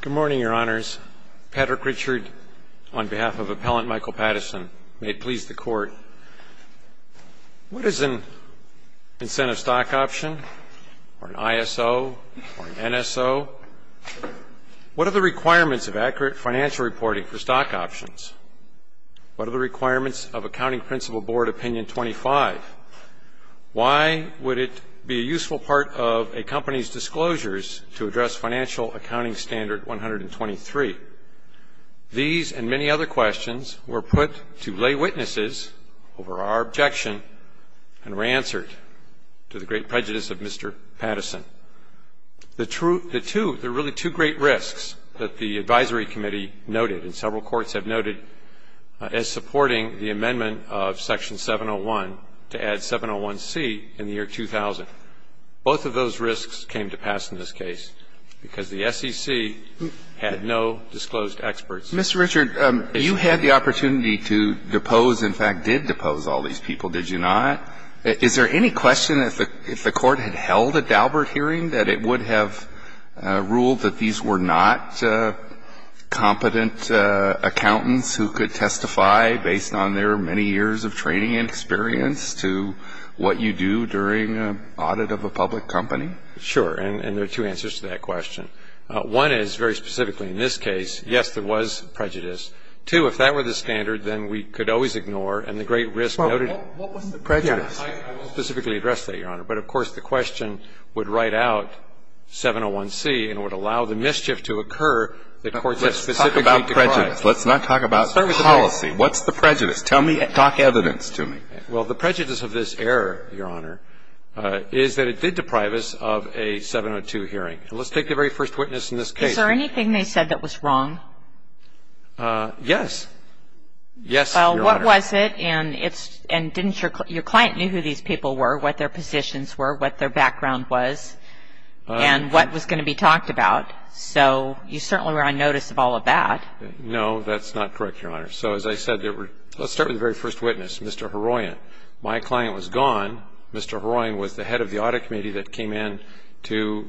Good morning, Your Honors. Patrick Richard, on behalf of Appellant Michael Pattison, may it please the Court. What is an incentive stock option, or an ISO, or an NSO? What are the requirements of accurate financial reporting for stock options? What are the requirements of Accounting Principle Board Opinion 25? Why would it be a useful part of a company's disclosures to address Financial Accounting Standard 123? These and many other questions were put to lay witnesses over our objection and were answered to the great prejudice of Mr. Pattison. The two, there are really two great risks that the Advisory Committee noted, and several courts have noted, as supporting the amendment of Section 701 to add 701c in the year 2000. Both of those risks came to pass in this case because the SEC had no disclosed experts. Mr. Richard, you had the opportunity to depose, in fact, did depose all these people, did you not? Is there any question that if the Court had held a Daubert hearing that it would have ruled that these were not competent accountants who could testify based on their many years of training and experience to what you do during an audit of a public company? Sure, and there are two answers to that question. One is, very specifically in this case, yes, there was prejudice. Two, if that were the standard, then we could always ignore, and the great risk noted What was the prejudice? I won't specifically address that, Your Honor. But of course, the question would write out 701c and would allow the mischief to occur that courts have specifically decried. Let's talk about prejudice. Let's not talk about policy. What's the prejudice? Talk evidence to me. Well, the prejudice of this error, Your Honor, is that it did deprive us of a 702 hearing. And let's take the very first witness in this case. Is there anything they said that was wrong? Yes. Yes, Your Honor. What was it? And didn't your client know who these people were, what their positions were, what their background was, and what was going to be talked about? So you certainly were on notice of all of that. No, that's not correct, Your Honor. So as I said, let's start with the very first witness, Mr. Heroyan. My client was gone. Mr. Heroyan was the head of the audit committee that came in to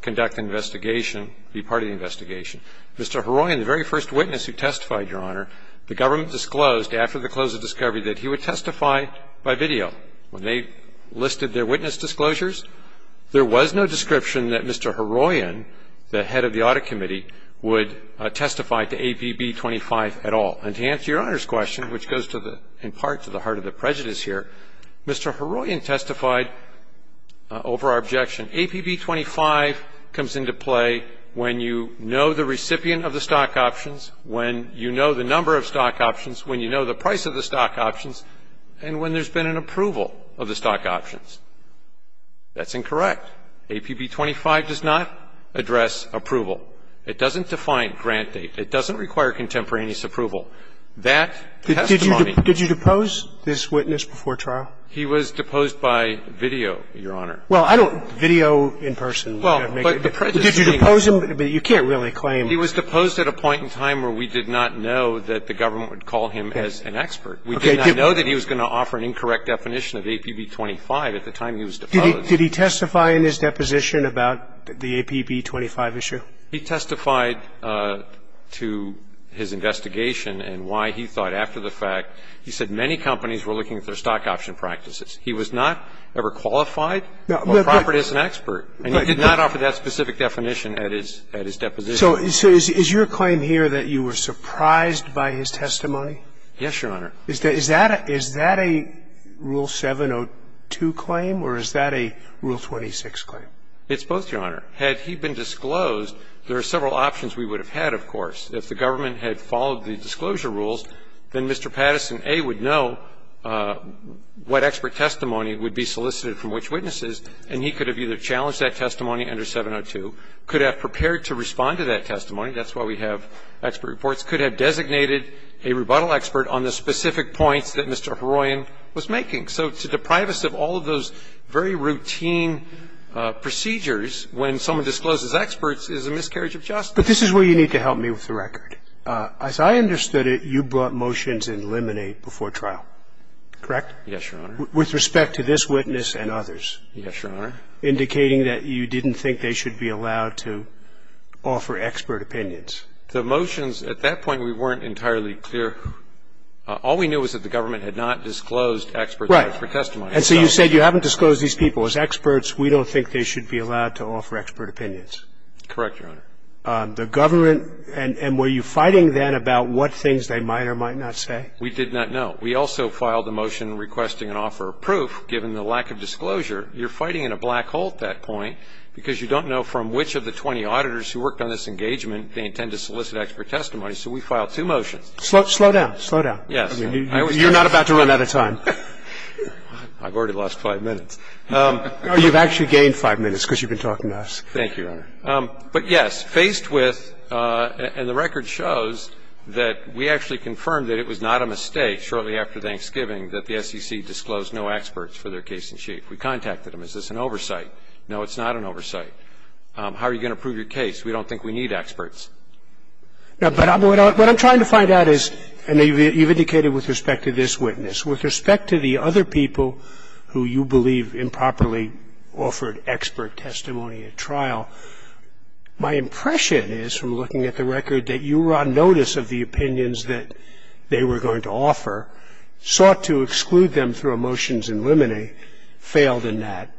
conduct the investigation, be part of the investigation. Mr. Heroyan, the very first witness who testified, Your Honor, the government disclosed after the close of discovery that he would testify by video. When they listed their witness disclosures, there was no description that Mr. Heroyan, the head of the audit committee, would testify to APB 25 at all. And to answer Your Honor's question, which goes in part to the heart of the prejudice here, Mr. Heroyan testified over our objection. APB 25 comes into play when you know the recipient of the stock options, when you know the number of stock options, when you know the price of the stock options, and when there's been an approval of the stock options. That's incorrect. APB 25 does not address approval. It doesn't define grant date. It doesn't require contemporaneous approval. That testimony. Did you depose this witness before trial? He was deposed by video, Your Honor. Well, I don't know. Video in person. Did you depose him? You can't really claim. He was deposed at a point in time where we did not know that the government would call him as an expert. We did not know that he was going to offer an incorrect definition of APB 25 at the time he was deposed. Did he testify in his deposition about the APB 25 issue? He testified to his investigation and why he thought after the fact. He said many companies were looking at their stock option practices. He was not ever qualified or proper to be an expert. And he did not offer that specific definition at his deposition. So is your claim here that you were surprised by his testimony? Yes, Your Honor. Is that a Rule 702 claim or is that a Rule 26 claim? It's both, Your Honor. Had he been disclosed, there are several options we would have had, of course. If the government had followed the disclosure rules, then Mr. Patterson, A, would know what expert testimony would be solicited from which witnesses, and he could have either challenged that testimony under 702, could have prepared to respond to that testimony, that's why we have expert reports, could have designated a rebuttal expert on the specific points that Mr. Heroyan was making. So to deprive us of all of those very routine procedures when someone discloses experts is a miscarriage of justice. But this is where you need to help me with the record. As I understood it, you brought motions in Lemonade before trial, correct? Yes, Your Honor. With respect to this witness and others. Yes, Your Honor. So you didn't file a motion indicating that you didn't think they should be allowed to offer expert opinions. The motions at that point, we weren't entirely clear. All we knew was that the government had not disclosed expert testimony. Right. And so you said you haven't disclosed these people. As experts, we don't think they should be allowed to offer expert opinions. Correct, Your Honor. The government – and were you fighting then about what things they might or might not say? We did not, no. We also filed a motion requesting an offer of proof given the lack of disclosure. You're fighting in a black hole at that point because you don't know from which of the 20 auditors who worked on this engagement they intend to solicit expert testimony. So we filed two motions. Slow down. Slow down. Yes. You're not about to run out of time. I've already lost 5 minutes. No, you've actually gained 5 minutes because you've been talking to us. Thank you, Your Honor. But, yes, faced with – and the record shows that we actually confirmed that it was not a mistake shortly after Thanksgiving that the SEC disclosed no experts for their case in chief. We contacted them. Is this an oversight? No, it's not an oversight. How are you going to prove your case? We don't think we need experts. No, but what I'm trying to find out is – and you've indicated with respect to this witness. With respect to the other people who you believe improperly offered expert testimony at trial, my impression is, from looking at the record, that you were on notice of the opinions that they were going to offer, sought to exclude them through a motions in limine, failed in that,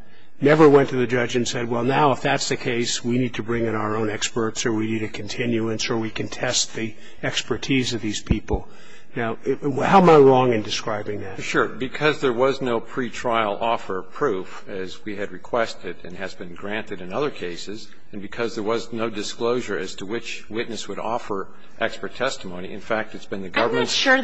never went to the judge and said, well, now if that's the case, we need to bring in our own experts or we need a continuance or we can test the expertise of these people. Now, how am I wrong in describing that? Sure. Because there was no pretrial offer proof, as we had requested and has been granted in other cases, and because there was no disclosure as to which witness would offer expert testimony. In fact, it's been the government – I'm not sure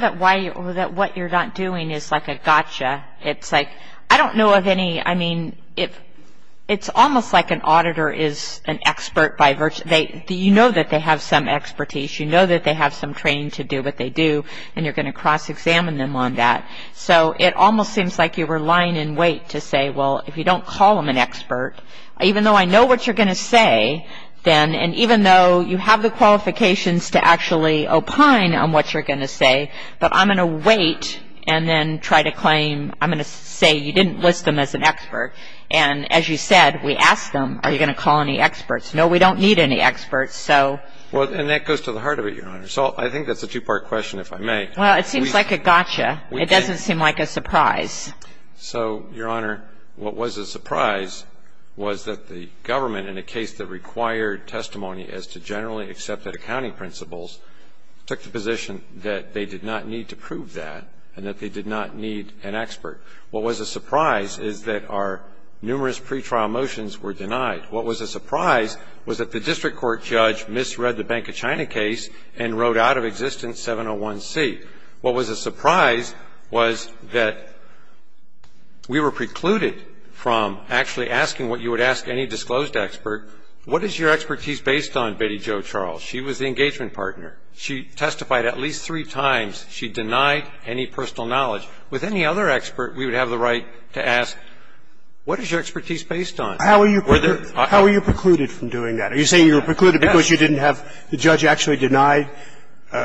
that what you're not doing is like a gotcha. It's like, I don't know of any – I mean, it's almost like an auditor is an expert by virtue – you know that they have some expertise, you know that they have some training to do what they do, and you're going to cross-examine them on that. So it almost seems like you were lying in wait to say, well, if you don't call them an expert, even though I know what you're going to say, then – and even though you have the qualifications to actually opine on what you're going to say, but I'm going to wait and then try to claim – I'm going to say you didn't list them as an expert. And as you said, we asked them, are you going to call any experts? No, we don't need any experts. So – Well, and that goes to the heart of it, Your Honor. So I think that's a two-part question, if I may. Well, it seems like a gotcha. It doesn't seem like a surprise. So, Your Honor, what was a surprise was that the government, in a case that required testimony as to generally accepted accounting principles, took the position that they did not need to prove that and that they did not need an expert. What was a surprise is that our numerous pretrial motions were denied. What was a surprise was that the district court judge misread the Bank of China case and wrote out of existence 701C. What was a surprise was that we were precluded from actually asking what you would ask any disclosed expert. What is your expertise based on, Betty Jo Charles? She was the engagement partner. She testified at least three times. She denied any personal knowledge. With any other expert, we would have the right to ask, what is your expertise based on? Were there – How were you precluded from doing that? Are you saying you were precluded because you didn't have the judge actually deny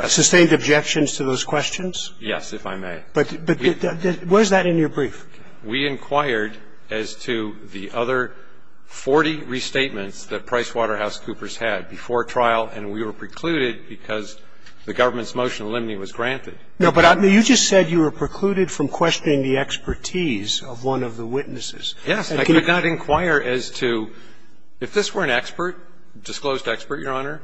sustained objections to those questions? Yes, if I may. But where is that in your brief? We inquired as to the other 40 restatements that PricewaterhouseCoopers had before trial, and we were precluded because the government's motion of liminy was granted. No, but you just said you were precluded from questioning the expertise of one of the witnesses. Yes. I did not inquire as to – if this were an expert, disclosed expert, Your Honor,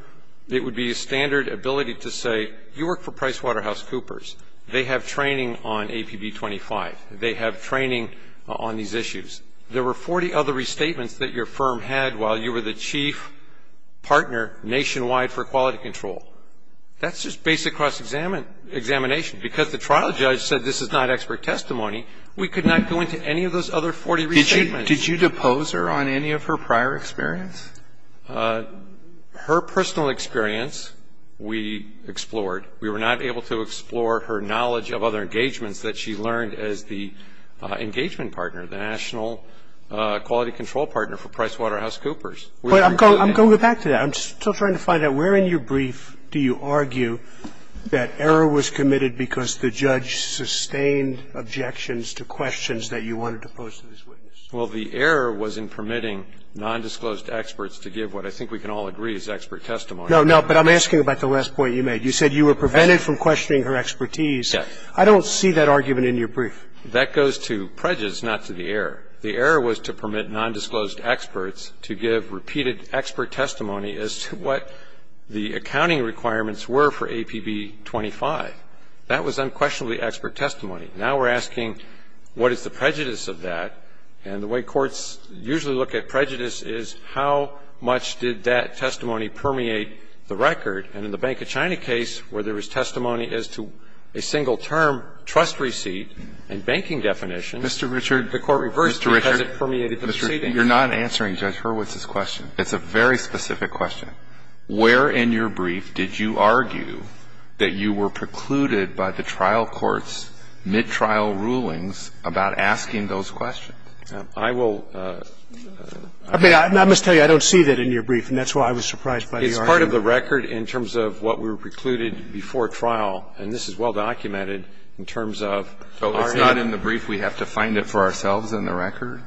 it would be a standard ability to say, you work for PricewaterhouseCoopers. They have training on APB 25. They have training on these issues. There were 40 other restatements that your firm had while you were the chief partner nationwide for quality control. That's just basic cross-examination. Because the trial judge said this is not expert testimony, we could not go into any of those other 40 restatements. Did you depose her on any of her prior experience? Her personal experience we explored. We were not able to explore her knowledge of other engagements that she learned as the engagement partner, the national quality control partner for PricewaterhouseCoopers. But I'm going to go back to that. I'm still trying to find out where in your brief do you argue that error was committed because the judge sustained objections to questions that you wanted to pose to this witness? Well, the error was in permitting nondisclosed experts to give what I think we can all agree is expert testimony. No, no. But I'm asking about the last point you made. You said you were prevented from questioning her expertise. Yes. I don't see that argument in your brief. That goes to prejudice, not to the error. The error was to permit nondisclosed experts to give repeated expert testimony as to what the accounting requirements were for APB 25. That was unquestionably expert testimony. Now we're asking what is the prejudice of that, and the way courts usually look at prejudice is how much did that testimony permeate the record. And in the Bank of China case where there was testimony as to a single term trust receipt and banking definition, the court reversed because it permeated the proceeding. Mr. Richard, you're not answering Judge Hurwitz's question. It's a very specific question. Where in your brief did you argue that you were precluded by the trial court's mid-trial rulings about asking those questions? I will. I must tell you, I don't see that in your brief, and that's why I was surprised by the argument. It's part of the record in terms of what we were precluded before trial, and this is well documented in terms of our aim. So it's not in the brief. We have to find it for ourselves in the record?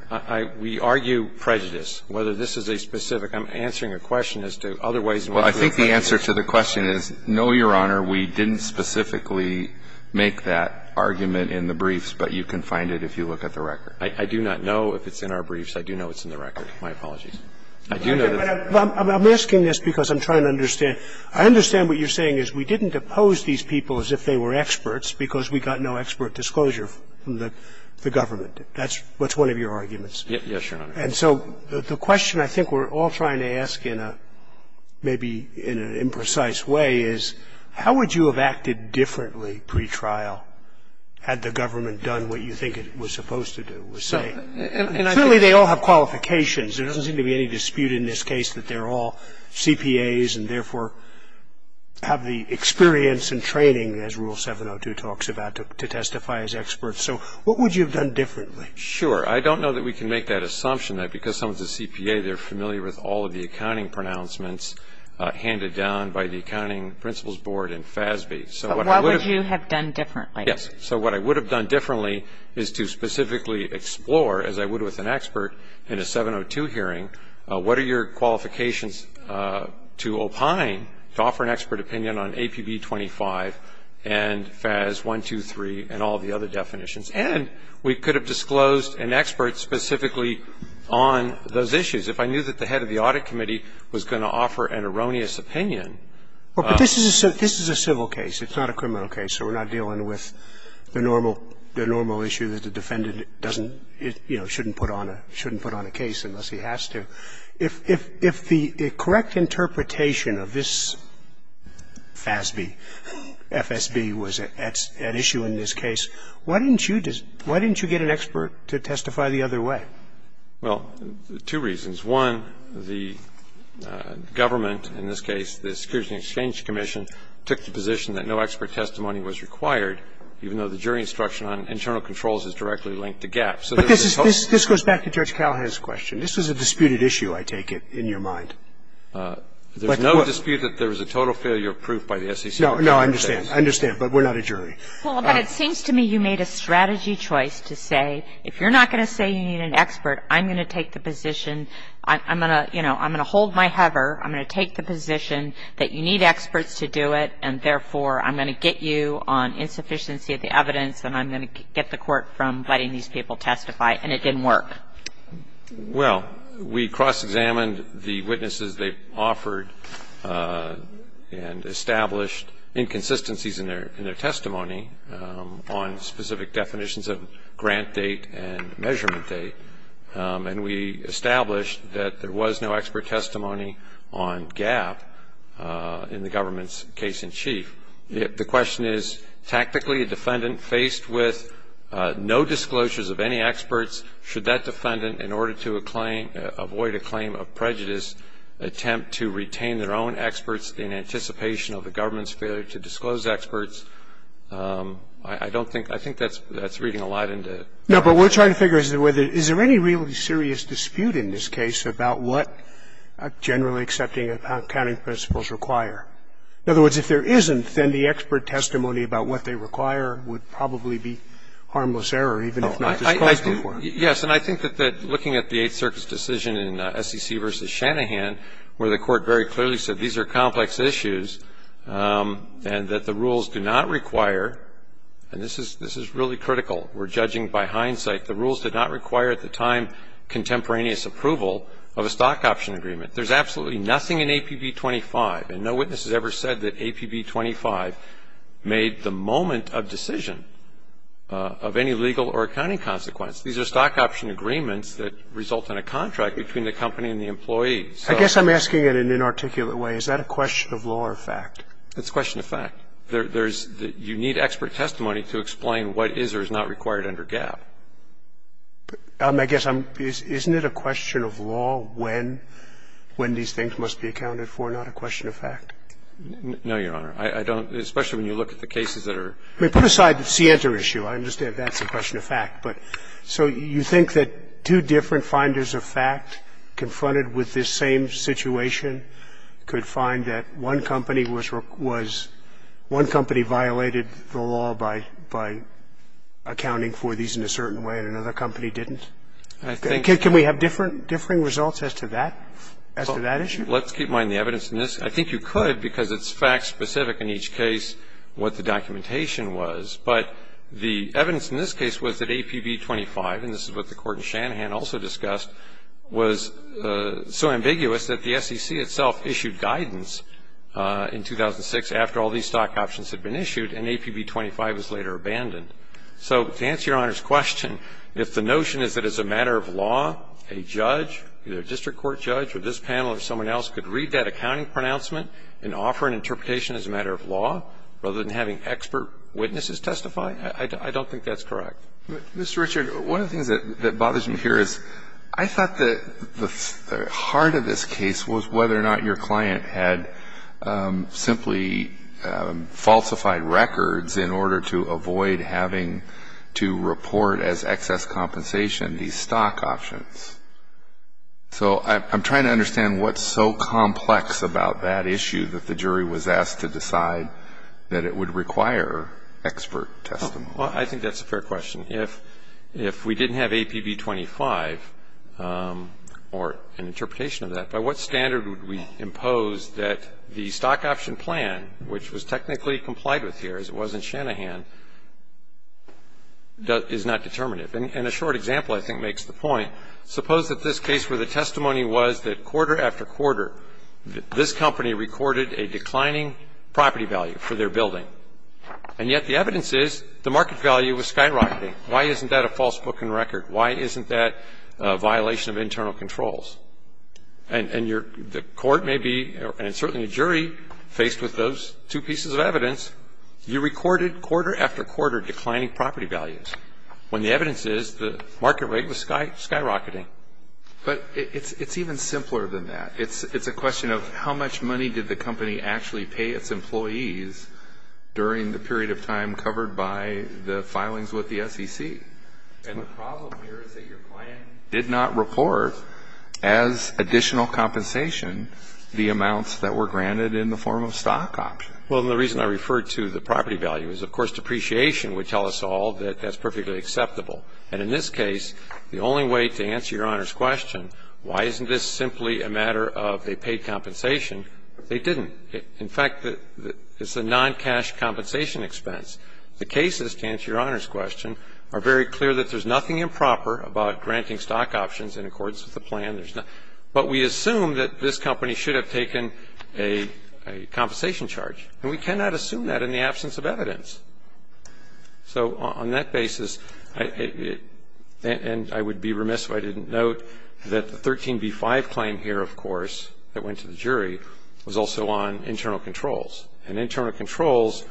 We argue prejudice, whether this is a specific. I'm answering a question as to otherwise what the prejudice is. Well, I think the answer to the question is, no, Your Honor, we didn't specifically make that argument in the briefs, but you can find it if you look at the record. I do not know if it's in our briefs. I do know it's in the record. My apologies. I do know that. I'm asking this because I'm trying to understand. I understand what you're saying is we didn't oppose these people as if they were experts because we got no expert disclosure from the government. That's what's one of your arguments. Yes, Your Honor. And so the question I think we're all trying to ask in a maybe in an imprecise way is, how would you have acted differently pretrial had the government done what you think it was supposed to do? Clearly, they all have qualifications. There doesn't seem to be any dispute in this case that they're all CPAs and, therefore, have the experience and training, as Rule 702 talks about, to testify as experts. So what would you have done differently? Sure. I don't know that we can make that assumption that because someone's a CPA, they're familiar with all of the accounting pronouncements handed down by the Accounting Principals Board and FASB. But what would you have done differently? Yes. So what I would have done differently is to specifically explore, as I would with an expert in a 702 hearing, what are your qualifications to opine, to offer an expert opinion on APB 25 and FAS 123 and all of the other definitions. And we could have disclosed an expert specifically on those issues. If I knew that the head of the Audit Committee was going to offer an erroneous opinion of the court. But this is a civil case. It's not a criminal case. So we're not dealing with the normal issue that the defendant doesn't, you know, shouldn't put on a case unless he has to. If the correct interpretation of this FASB, FSB, was at issue in this case, why didn't you get an expert to testify the other way? Well, two reasons. One, the government, in this case the Securities and Exchange Commission, took the position that no expert testimony was required, even though the jury instruction on internal controls is directly linked to GAP. But this goes back to Judge Callahan's question. This was a disputed issue, I take it, in your mind. There's no dispute that there was a total failure of proof by the SEC. No, I understand. I understand. But we're not a jury. Well, but it seems to me you made a strategy choice to say, if you're not going to say you need an expert, I'm going to take the position. I'm going to, you know, I'm going to hold my hover. I'm going to take the position that you need experts to do it and, therefore, I'm going to get you on insufficiency of the evidence and I'm going to get the Court from letting these people testify. And it didn't work. Well, we cross-examined the witnesses they offered and established inconsistencies in their testimony on specific definitions of grant date and measurement date. And we established that there was no expert testimony on GAP in the government's case in chief. The question is, tactically, a defendant faced with no disclosures of any experts, should that defendant, in order to avoid a claim of prejudice, attempt to retain their own experts in anticipation of the government's failure to disclose experts? I don't think that's reading a lot into it. No, but what we're trying to figure is, is there any really serious dispute in this case about what generally accepting accounting principles require? In other words, if there isn't, then the expert testimony about what they require would probably be harmless error, even if not disclosed before. Yes, and I think that looking at the Eighth Circuit's decision in SEC v. Shanahan, where the Court very clearly said these are complex issues and that the rules do not require, and this is really critical. We're judging by hindsight, the rules did not require at the time contemporaneous approval of a stock option agreement. There's absolutely nothing in APB 25, and no witness has ever said that APB 25 made the moment of decision of any legal or accounting consequence. These are stock option agreements that result in a contract between the company and the employee. I guess I'm asking it in an inarticulate way. Is that a question of law or fact? It's question of fact. There's, you need expert testimony to explain what is or is not required under GAAP. I guess I'm, isn't it a question of law when, when these things must be accounted for, not a question of fact? No, Your Honor. I don't, especially when you look at the cases that are. I mean, put aside the Sienta issue. I understand that's a question of fact. But so you think that two different finders of fact confronted with this same situation could find that one company was, was, one company violated the law by, by accounting for these in a certain way and another company didn't? I think. Can we have different, differing results as to that, as to that issue? Well, let's keep in mind the evidence in this. I think you could because it's fact specific in each case what the documentation was. But the evidence in this case was that APB 25, and this is what the Court in Shanahan also discussed, was so ambiguous that the SEC itself issued guidance in 2006 after all these stock options had been issued and APB 25 was later abandoned. So to answer Your Honor's question, if the notion is that as a matter of law, a judge, either a district court judge or this panel or someone else could read that accounting pronouncement and offer an interpretation as a matter of law rather than having expert witnesses testify, I don't think that's correct. Mr. Richard, one of the things that, that bothers me here is I thought that the heart of this case was whether or not your client had simply falsified records in order to avoid having to report as excess compensation these stock options. So I'm, I'm trying to understand what's so complex about that issue that the jury was asked to decide that it would require expert testimony. Well, I think that's a fair question. If, if we didn't have APB 25 or an interpretation of that, by what standard would we impose that the stock option plan, which was technically complied with here as it was in Shanahan, is not determinative? And a short example I think makes the point. Suppose that this case where the testimony was that quarter after quarter this company recorded a declining property value for their building. And yet the evidence is the market value was skyrocketing. Why isn't that a false book in record? Why isn't that a violation of internal controls? And, and your, the court may be, and certainly the jury, faced with those two pieces of evidence, you recorded quarter after quarter declining property values, when the evidence is the market rate was skyrocketing. But it's, it's even simpler than that. It's, it's a question of how much money did the company actually pay its employees during the period of time covered by the filings with the SEC? And the problem here is that your plan did not report as additional compensation the amounts that were granted in the form of stock options. Well, and the reason I referred to the property value is, of course, depreciation would tell us all that that's perfectly acceptable. And in this case, the only way to answer Your Honor's question, why isn't this simply a matter of they paid compensation, they didn't. In fact, it's a non-cash compensation expense. The cases, to answer Your Honor's question, are very clear that there's nothing improper about granting stock options in accordance with the plan. But we assume that this company should have taken a compensation charge. And we cannot assume that in the absence of evidence. So on that basis, and I would be remiss if I didn't note that the 13b-5 claim here, of course, that went to the jury was also on internal controls. And internal controls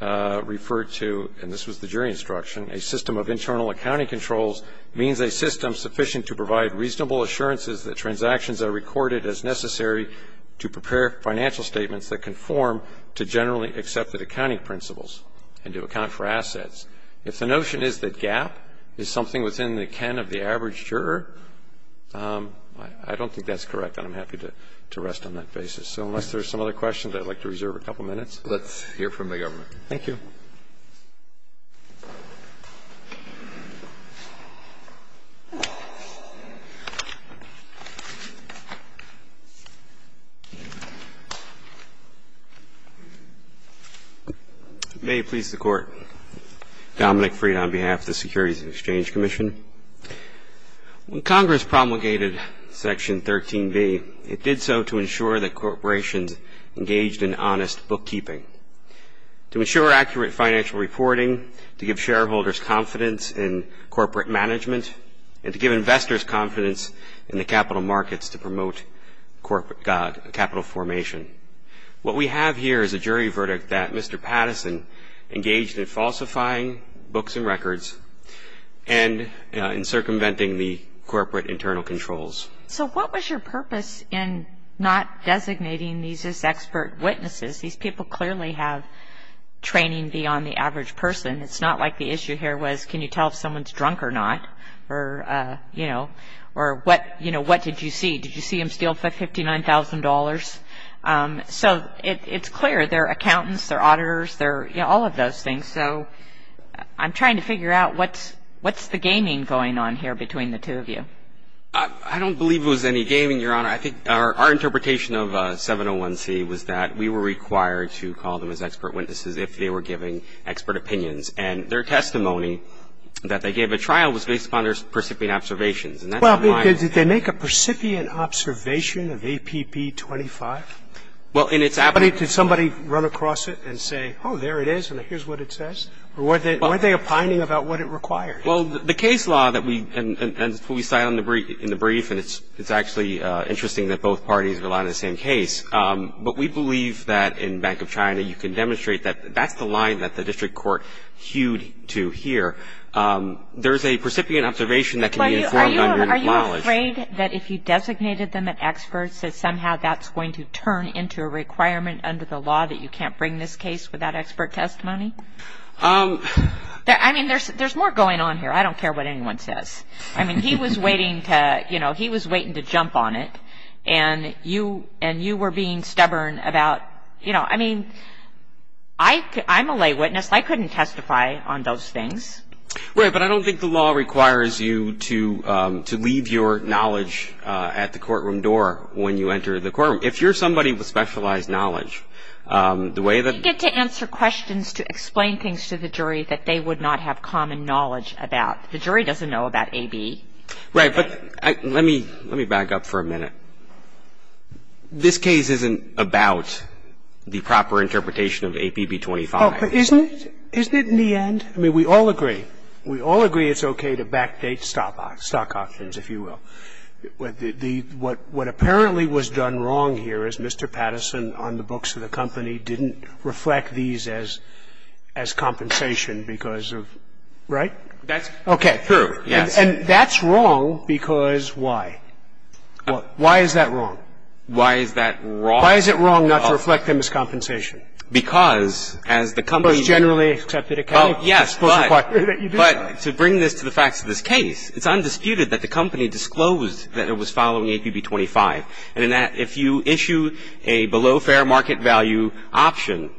referred to, and this was the jury instruction, a system of internal accounting controls means a system sufficient to provide reasonable assurances that transactions are recorded as necessary to prepare financial statements that conform to generally accepted accounting principles and to account for assets. If the notion is that GAAP is something within the ken of the average juror, I don't think that's correct and I'm happy to rest on that basis. So unless there's some other questions, I'd like to reserve a couple minutes. Let's hear from the government. Thank you. May it please the Court. Dominick Freed on behalf of the Securities and Exchange Commission. When Congress promulgated Section 13b, it did so to ensure that corporations engaged in honest bookkeeping, to ensure accurate financial reporting, to give shareholders confidence in corporate management, and to give investors confidence in the capital markets to promote capital formation. What we have here is a jury verdict that Mr. Patterson engaged in falsifying books and records and in circumventing the corporate internal controls. So what was your purpose in not designating these as expert witnesses? These people clearly have training beyond the average person. It's not like the issue here was can you tell if someone's drunk or not or what did you see? Did you see him steal $59,000? So it's clear. They're accountants, they're auditors, they're all of those things. So I'm trying to figure out what's the gaming going on here between the two of you. I don't believe it was any gaming, Your Honor. I think our interpretation of 701C was that we were required to call them as expert witnesses if they were giving expert opinions. And their testimony that they gave at trial was based upon their precipient observations. Well, did they make a precipient observation of APP 25? Well, in its application. Did somebody run across it and say, oh, there it is, and here's what it says? Or were they opining about what it required? Well, the case law that we – and we cite in the brief, and it's actually interesting that both parties rely on the same case. But we believe that in Bank of China you can demonstrate that that's the line that the district court hewed to here. There's a precipient observation that can be informed under an acknowledge. Are you afraid that if you designated them as experts, that somehow that's going to turn into a requirement under the law that you can't bring this case without expert testimony? I mean, there's more going on here. I don't care what anyone says. I mean, he was waiting to, you know, he was waiting to jump on it. And you were being stubborn about, you know, I mean, I'm a lay witness. I couldn't testify on those things. Right. But I don't think the law requires you to leave your knowledge at the courtroom door when you enter the courtroom. If you're somebody with specialized knowledge, the way that You get to answer questions to explain things to the jury that they would not have common knowledge about. The jury doesn't know about AB. Right. But let me back up for a minute. This case isn't about the proper interpretation of APB 25. Oh, but isn't it? Isn't it in the end? I mean, we all agree. We all agree it's okay to backdate stock options, if you will. What apparently was done wrong here is Mr. Patterson on the books of the company didn't reflect these as compensation because of, right? That's true, yes. Okay. And that's wrong because why? Why is that wrong? Why is that wrong? Why is it wrong not to reflect them as compensation? Because as the company generally accepted it. Oh, yes. But to bring this to the facts of this case, it's undisputed that the company disclosed that it was following APB 25 and that if you issue a below fair market value option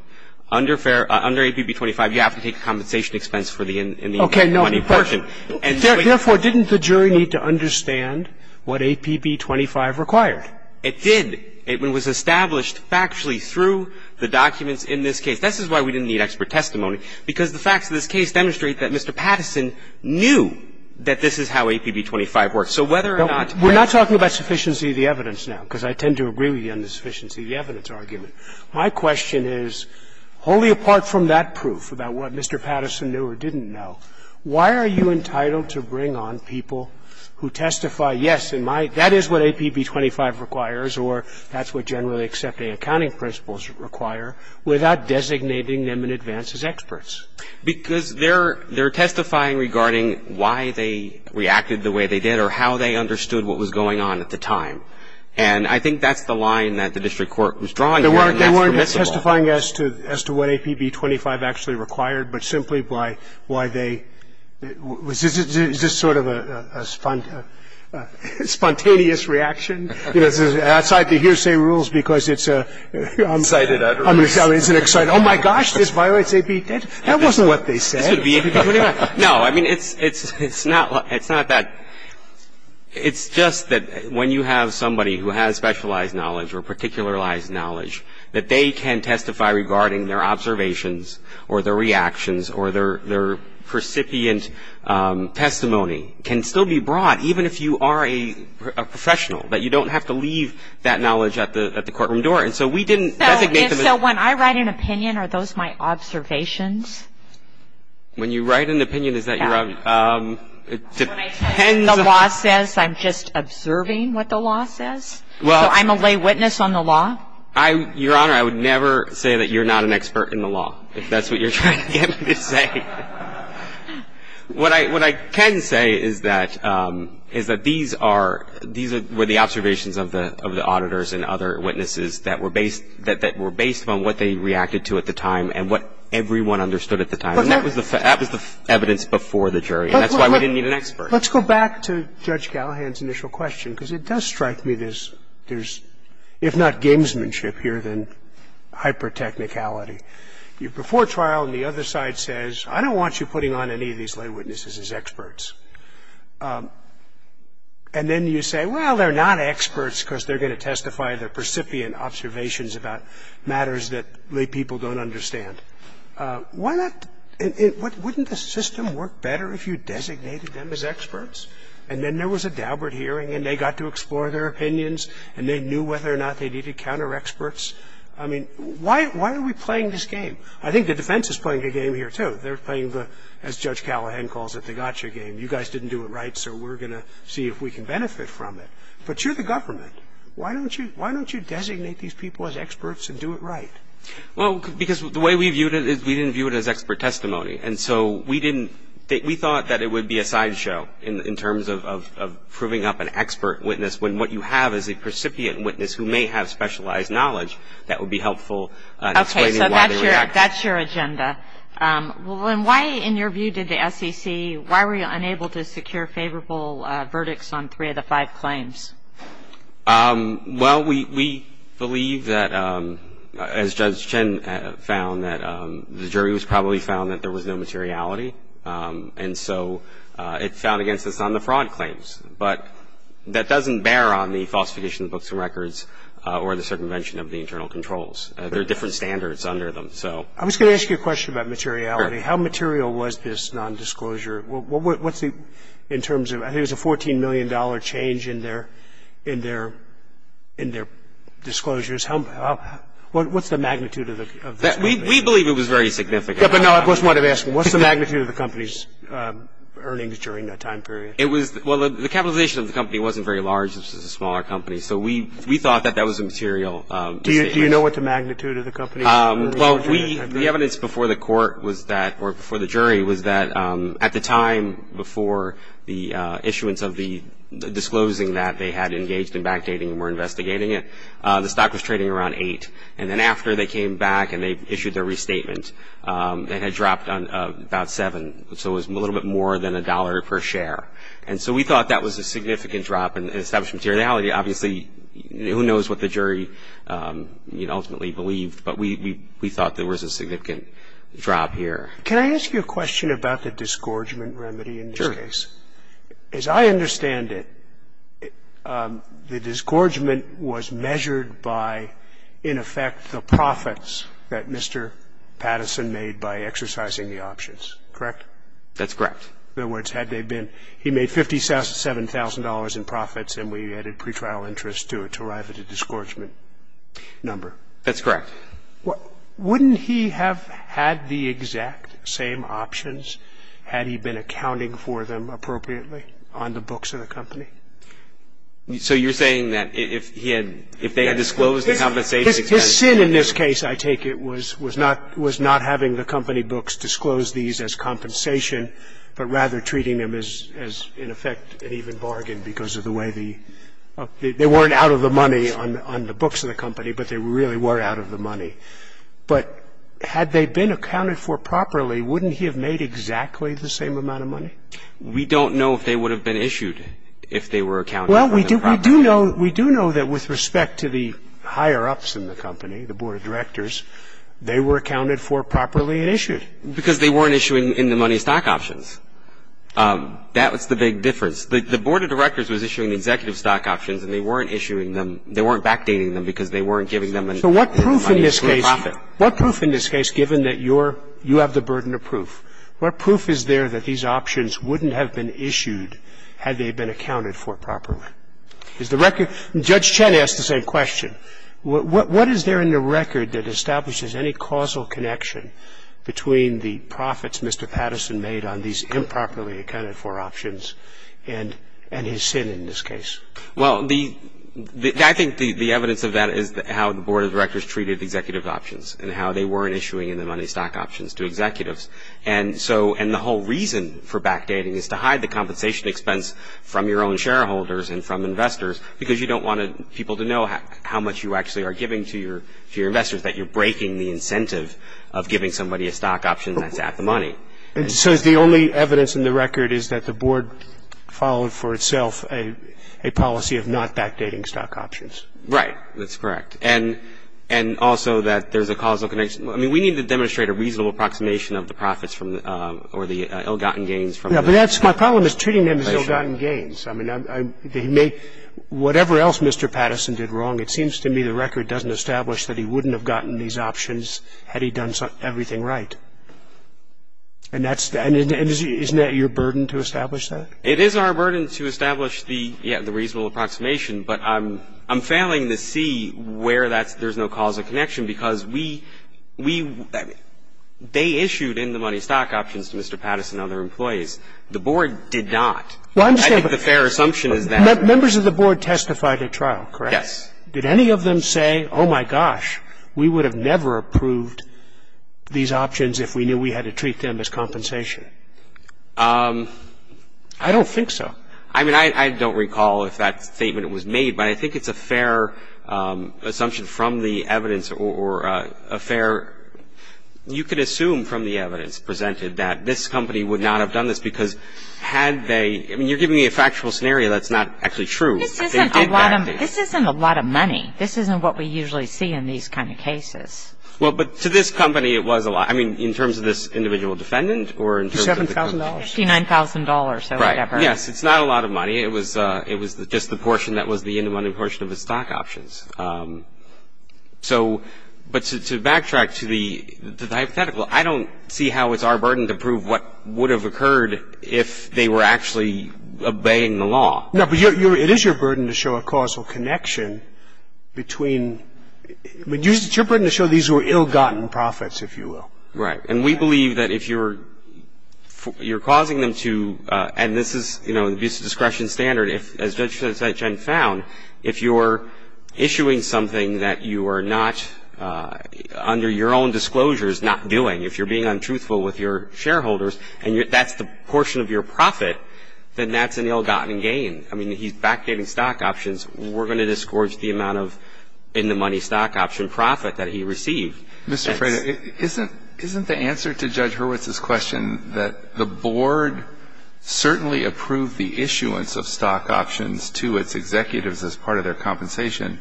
under fair under APB 25, you have to take a compensation expense for the in the money portion. Therefore, didn't the jury need to understand what APB 25 required? It did. It was established factually through the documents in this case. This is why we didn't need expert testimony, because the facts of this case demonstrate that Mr. Patterson knew that this is how APB 25 works. So whether or not you have to. We're not talking about sufficiency of the evidence now, because I tend to agree with you on the sufficiency of the evidence argument. My question is, wholly apart from that proof about what Mr. Patterson knew or didn't know, why are you entitled to bring on people who testify, yes, that is what APB 25 requires or that's what generally accepting accounting principles require, without designating them in advance as experts? Because they're they're testifying regarding why they reacted the way they did or how they understood what was going on at the time. And I think that's the line that the district court was drawing here. They weren't testifying as to as to what APB 25 actually required, but simply by why Is this sort of a spontaneous reaction? You know, outside the hearsay rules, because it's a Excited utterance. I mean, it's an excited, oh, my gosh, this violates APT. That wasn't what they said. This would be APB 25. No. I mean, it's not that. It's just that when you have somebody who has specialized knowledge or particularized knowledge that they can testify regarding their observations or their reactions or their recipient testimony can still be brought, even if you are a professional, that you don't have to leave that knowledge at the courtroom door. And so we didn't designate them as So when I write an opinion, are those my observations? When you write an opinion, is that your When I tell you what the law says, I'm just observing what the law says? So I'm a lay witness on the law? Your Honor, I would never say that you're not an expert in the law, if that's what you're trying to say. What I can say is that these are the observations of the auditors and other witnesses that were based on what they reacted to at the time and what everyone understood at the time. And that was the evidence before the jury. And that's why we didn't need an expert. Let's go back to Judge Callahan's initial question, because it does strike me there's, if not gamesmanship here, then hyper-technicality. You're before trial and the other side says, I don't want you putting on any of these lay witnesses as experts. And then you say, well, they're not experts because they're going to testify, they're percipient observations about matters that lay people don't understand. Why not, wouldn't the system work better if you designated them as experts? And then there was a Daubert hearing and they got to explore their opinions and they knew whether or not they needed counter experts. I mean, why are we playing this game? I think the defense is playing a game here, too. They're playing the, as Judge Callahan calls it, the gotcha game. You guys didn't do it right, so we're going to see if we can benefit from it. But you're the government. Why don't you designate these people as experts and do it right? Well, because the way we viewed it is we didn't view it as expert testimony. And so we didn't, we thought that it would be a sideshow in terms of proving up an expert witness when what you have is a percipient witness who may have specialized knowledge that would be helpful. Okay, so that's your agenda. And why, in your view, did the SEC, why were you unable to secure favorable verdicts on three of the five claims? Well, we believe that, as Judge Chen found, that the jury was probably found that there was no materiality. And so it found against us on the fraud claims. But that doesn't bear on the falsification of books and records or the circumvention of the internal controls. There are different standards under them. I was going to ask you a question about materiality. How material was this nondisclosure? What's the, in terms of, I think it was a $14 million change in their disclosures. What's the magnitude of the circumvention? We believe it was very significant. Yeah, but no, I just wanted to ask, what's the magnitude of the company's earnings during that time period? It was, well, the capitalization of the company wasn't very large. This was a smaller company. So we thought that that was a material decision. Do you know what the magnitude of the company? Well, the evidence before the court was that, or before the jury, was that at the time before the issuance of the disclosing that they had engaged in backdating and were investigating it, the stock was trading around 8. And then after they came back and they issued their restatement, it had dropped about 7. So it was a little bit more than a dollar per share. And so we thought that was a significant drop in established materiality. Obviously, who knows what the jury ultimately believed, but we thought there was a significant drop here. Can I ask you a question about the disgorgement remedy in this case? Sure. As I understand it, the disgorgement was measured by, in effect, the profits that Mr. Patterson made by exercising the options, correct? That's correct. In other words, had they been, he made $57,000 in profits and we added pretrial interest to it to arrive at a disgorgement number. That's correct. Wouldn't he have had the exact same options had he been accounting for them appropriately on the books of the company? So you're saying that if he had, if they had disclosed the compensation? His sin in this case, I take it, was not having the company books disclose these as compensation, but rather treating them as, in effect, an even bargain because of the way the – they weren't out of the money on the books of the company, but they really were out of the money. But had they been accounted for properly, wouldn't he have made exactly the same amount of money? We don't know if they would have been issued if they were accounted for properly. Well, we do know that with respect to the higher-ups in the company, the board of directors, they were accounted for properly and issued. Because they weren't issuing in-the-money stock options. That was the big difference. The board of directors was issuing the executive stock options and they weren't issuing them, they weren't backdating them because they weren't giving them in-the-money stock profit. So what proof in this case, given that you're, you have the burden of proof, what proof is there that these options wouldn't have been issued had they been accounted for properly? Is the record – Judge Chen asked the same question. What is there in the record that establishes any causal connection between the profits Mr. Patterson made on these improperly accounted for options and his sin in this case? Well, the – I think the evidence of that is how the board of directors treated executive options and how they weren't issuing in-the-money stock options to executives. And so – and the whole reason for backdating is to hide the compensation expense from your own shareholders and from investors because you don't want people to know how much you actually are giving to your investors, that you're breaking the incentive of giving somebody a stock option that's at-the-money. So the only evidence in the record is that the board followed for itself a policy of not backdating stock options. Right. That's correct. And also that there's a causal connection. I mean, we need to demonstrate a reasonable approximation of the profits from the – or the ill-gotten gains from the – Yeah, but that's – my problem is treating them as ill-gotten gains. I mean, they may – whatever else Mr. Patterson did wrong, it seems to me the record doesn't establish that he wouldn't have gotten these options had he done everything right. And that's – and isn't that your burden to establish that? It is our burden to establish the – yeah, the reasonable approximation, but I'm failing to see where that's – there's no causal connection because we – they issued in-the-money stock options to Mr. Patterson and other employees. The board did not. I think the fair assumption is that – Members of the board testified at trial, correct? Yes. Did any of them say, oh, my gosh, we would have never approved these options if we knew we had to treat them as compensation? I don't think so. I mean, I don't recall if that statement was made, but I think it's a fair assumption from the evidence or a fair – you could assume from the evidence presented that this company would not have done this because had they – I mean, you're giving me a factual scenario that's not actually true. This isn't a lot of money. This isn't what we usually see in these kind of cases. Well, but to this company it was a lot. I mean, in terms of this individual defendant or in terms of the company? $7,000. $59,000 or whatever. Yes. It's not a lot of money. It was just the portion that was the undemanded portion of the stock options. So – but to backtrack to the hypothetical, I don't see how it's our burden to prove what would have occurred if they were actually obeying the law. No, but it is your burden to show a causal connection between – I mean, it's your burden to show these were ill-gotten profits, if you will. Right. And we believe that if you're – you're causing them to – and this is, you know, the discretion standard. As Judge Sessions found, if you're issuing something that you are not – under your own disclosure is not doing, if you're being untruthful with your shareholders and that's the portion of your profit, then that's an ill-gotten gain. I mean, he's backdating stock options. We're going to discourage the amount of in-the-money stock option profit that he received. Mr. Freda, isn't – isn't the answer to Judge Hurwitz's question that the board certainly approved the issuance of stock options to its executives as part of their compensation,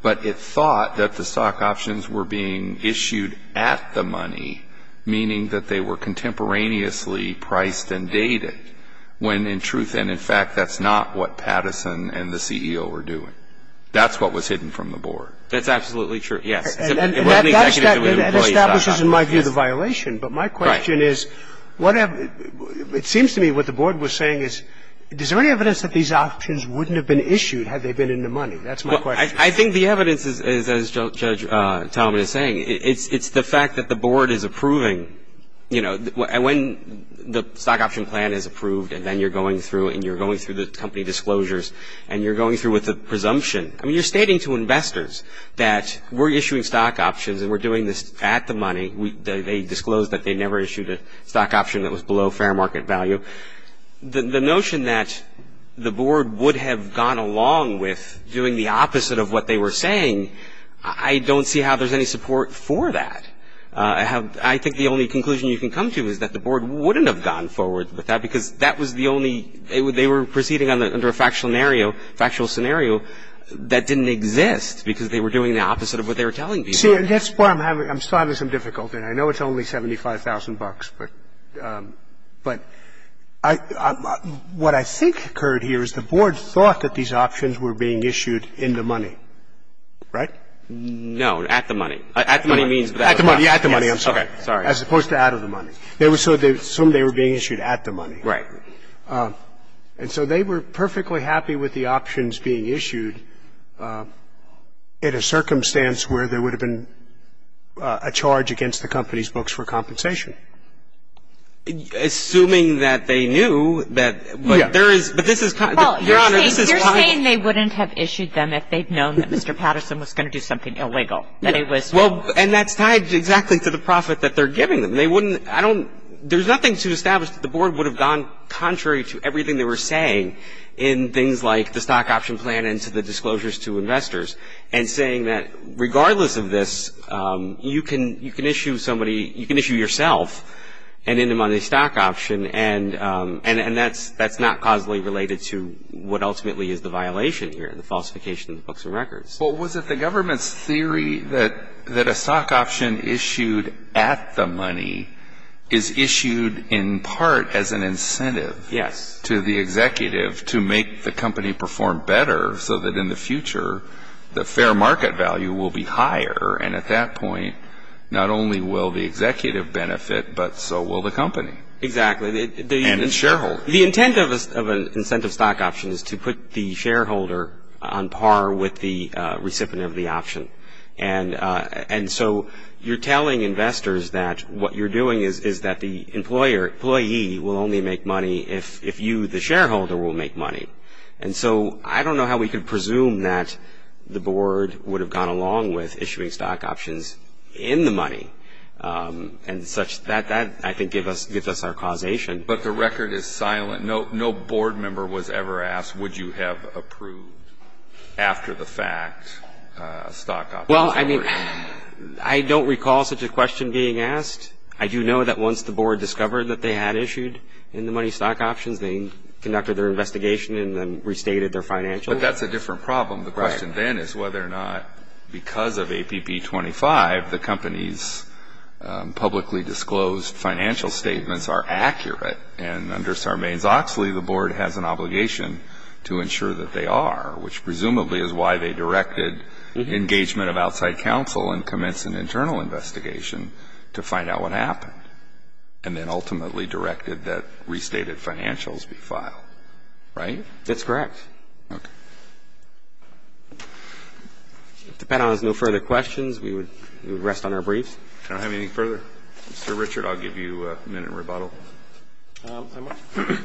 but it thought that the stock options were being issued at the money, meaning that they were contemporaneously priced and dated, when in truth and in fact that's not what Patterson and the CEO were doing? That's what was hidden from the board. That's absolutely true, yes. And that establishes, in my view, the violation. But my question is, what – it seems to me what the board was saying is, is there any evidence that these options wouldn't have been issued had they been in the money? That's my question. I think the evidence is, as Judge Talmadge is saying, it's the fact that the board is approving, you know, when the stock option plan is approved and then you're going through and you're going through the company disclosures and you're going through with a presumption. I mean, you're stating to investors that we're issuing stock options and we're doing this at the money. They disclosed that they never issued a stock option that was below fair market value. The notion that the board would have gone along with doing the opposite of what they were saying, I don't see how there's any support for that. I think the only conclusion you can come to is that the board wouldn't have gone forward with that because that was the only – they were proceeding under a factual scenario that didn't exist because they were doing the opposite of what they were telling people. See, that's where I'm having – I'm starting to have some difficulty. I know it's only $75,000, but what I think occurred here is the board thought that these options were being issued in the money, right? No, at the money. At the money means without the money. At the money. At the money. I'm sorry. Okay. Sorry. As opposed to out of the money. So they were being issued at the money. Right. And so they were perfectly happy with the options being issued in a circumstance where there would have been a charge against the company's books for compensation. Assuming that they knew that – but there is – but this is – Your Honor, this is why – Well, you're saying they wouldn't have issued them if they'd known that Mr. Patterson was going to do something illegal, that it was – Well, and that's tied exactly to the profit that they're giving them. There's nothing to establish that the board would have gone contrary to everything they were saying in things like the stock option plan and to the disclosures to investors and saying that regardless of this, you can issue somebody – you can issue yourself an in the money stock option, and that's not causally related to what ultimately is the violation here, the falsification of the books and records. Well, was it the government's theory that a stock option issued at the money is issued in part as an incentive to the executive to make the company perform better so that in the future, the fair market value will be higher, and at that point, not only will the executive benefit, but so will the company. Exactly. And its shareholders. The intent of an incentive stock option is to put the shareholder on par with the recipient of the option, and so you're telling investors that what you're doing is that the employer – employee will only make money if you, the shareholder, will make money. And so I don't know how we could presume that the board would have gone along with issuing stock options in the money and such. That, I think, gives us our causation. But the record is silent. No board member was ever asked, would you have approved after the fact stock options were issued. Well, I mean, I don't recall such a question being asked. I do know that once the board discovered that they had issued in the money stock options, they conducted their investigation and then restated their financials. But that's a different problem. The question then is whether or not because of APP 25, the company's publicly disclosed financial statements are accurate. And under Sarbanes-Oxley, the board has an obligation to ensure that they are, which presumably is why they directed engagement of outside counsel and commenced an internal investigation to find out what happened, and then ultimately directed that restated financials be filed. Right? That's correct. Okay. If the panel has no further questions, we would rest on our briefs. Do I have anything further? Mr. Richard, I'll give you a minute rebuttal.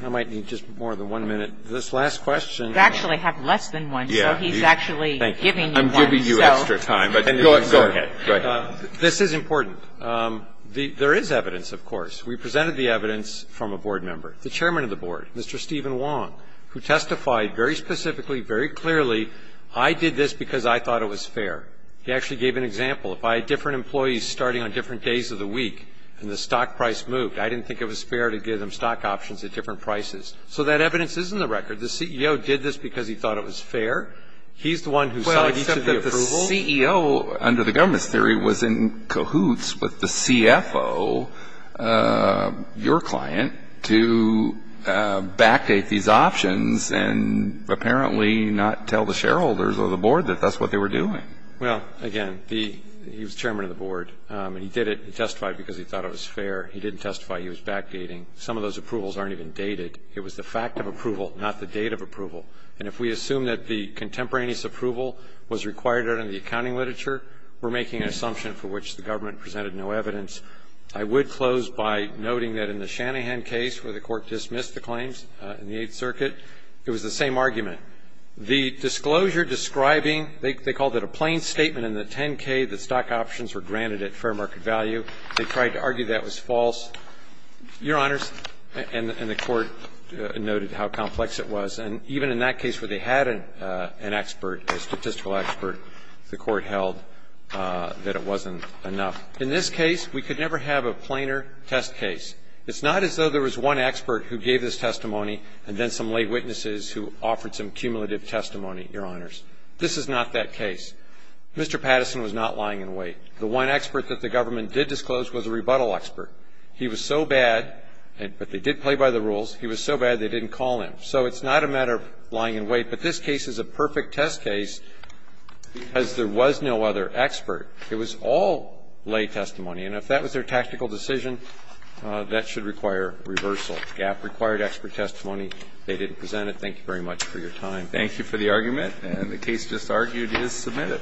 I might need just more than one minute. This last question. You actually have less than one, so he's actually giving you one. I'm giving you extra time. Go ahead. Go ahead. This is important. There is evidence, of course. We presented the evidence from a board member, the chairman of the board, Mr. Stephen Wong, who testified very specifically, very clearly, I did this because I thought it was fair. He actually gave an example. If I had different employees starting on different days of the week and the stock price moved, I didn't think it was fair to give them stock options at different prices. So that evidence is in the record. The CEO did this because he thought it was fair. He's the one who signed each of the approvals. Well, except that the CEO, under the government's theory, was in cahoots with the CFO, your client, to backdate these options and apparently not tell the shareholders or the board that that's what they were doing. Well, again, he was chairman of the board, and he did it, he testified because he thought it was fair. He didn't testify. He was backdating. Some of those approvals aren't even dated. It was the fact of approval, not the date of approval. And if we assume that the contemporaneous approval was required under the accounting literature, we're making an assumption for which the government presented no evidence. I would close by noting that in the Shanahan case, where the court dismissed the claims in the Eighth Circuit, it was the same argument. The disclosure describing, they called it a plain statement in the 10-K that stock options were granted at fair market value. They tried to argue that was false. Your Honors, and the Court noted how complex it was, and even in that case where they had an expert, a statistical expert, the Court held that it wasn't enough. In this case, we could never have a plainer test case. It's not as though there was one expert who gave this testimony and then some lay witnesses who offered some cumulative testimony, Your Honors. This is not that case. Mr. Patterson was not lying in wait. The one expert that the government did disclose was a rebuttal expert. He was so bad, but they did play by the rules, he was so bad they didn't call him. So it's not a matter of lying in wait, but this case is a perfect test case because there was no other expert. It was all lay testimony, and if that was their tactical decision, that should require reversal. GAP required expert testimony. They didn't present it. Thank you very much for your time. Thank you for the argument. And the case just argued is submitted.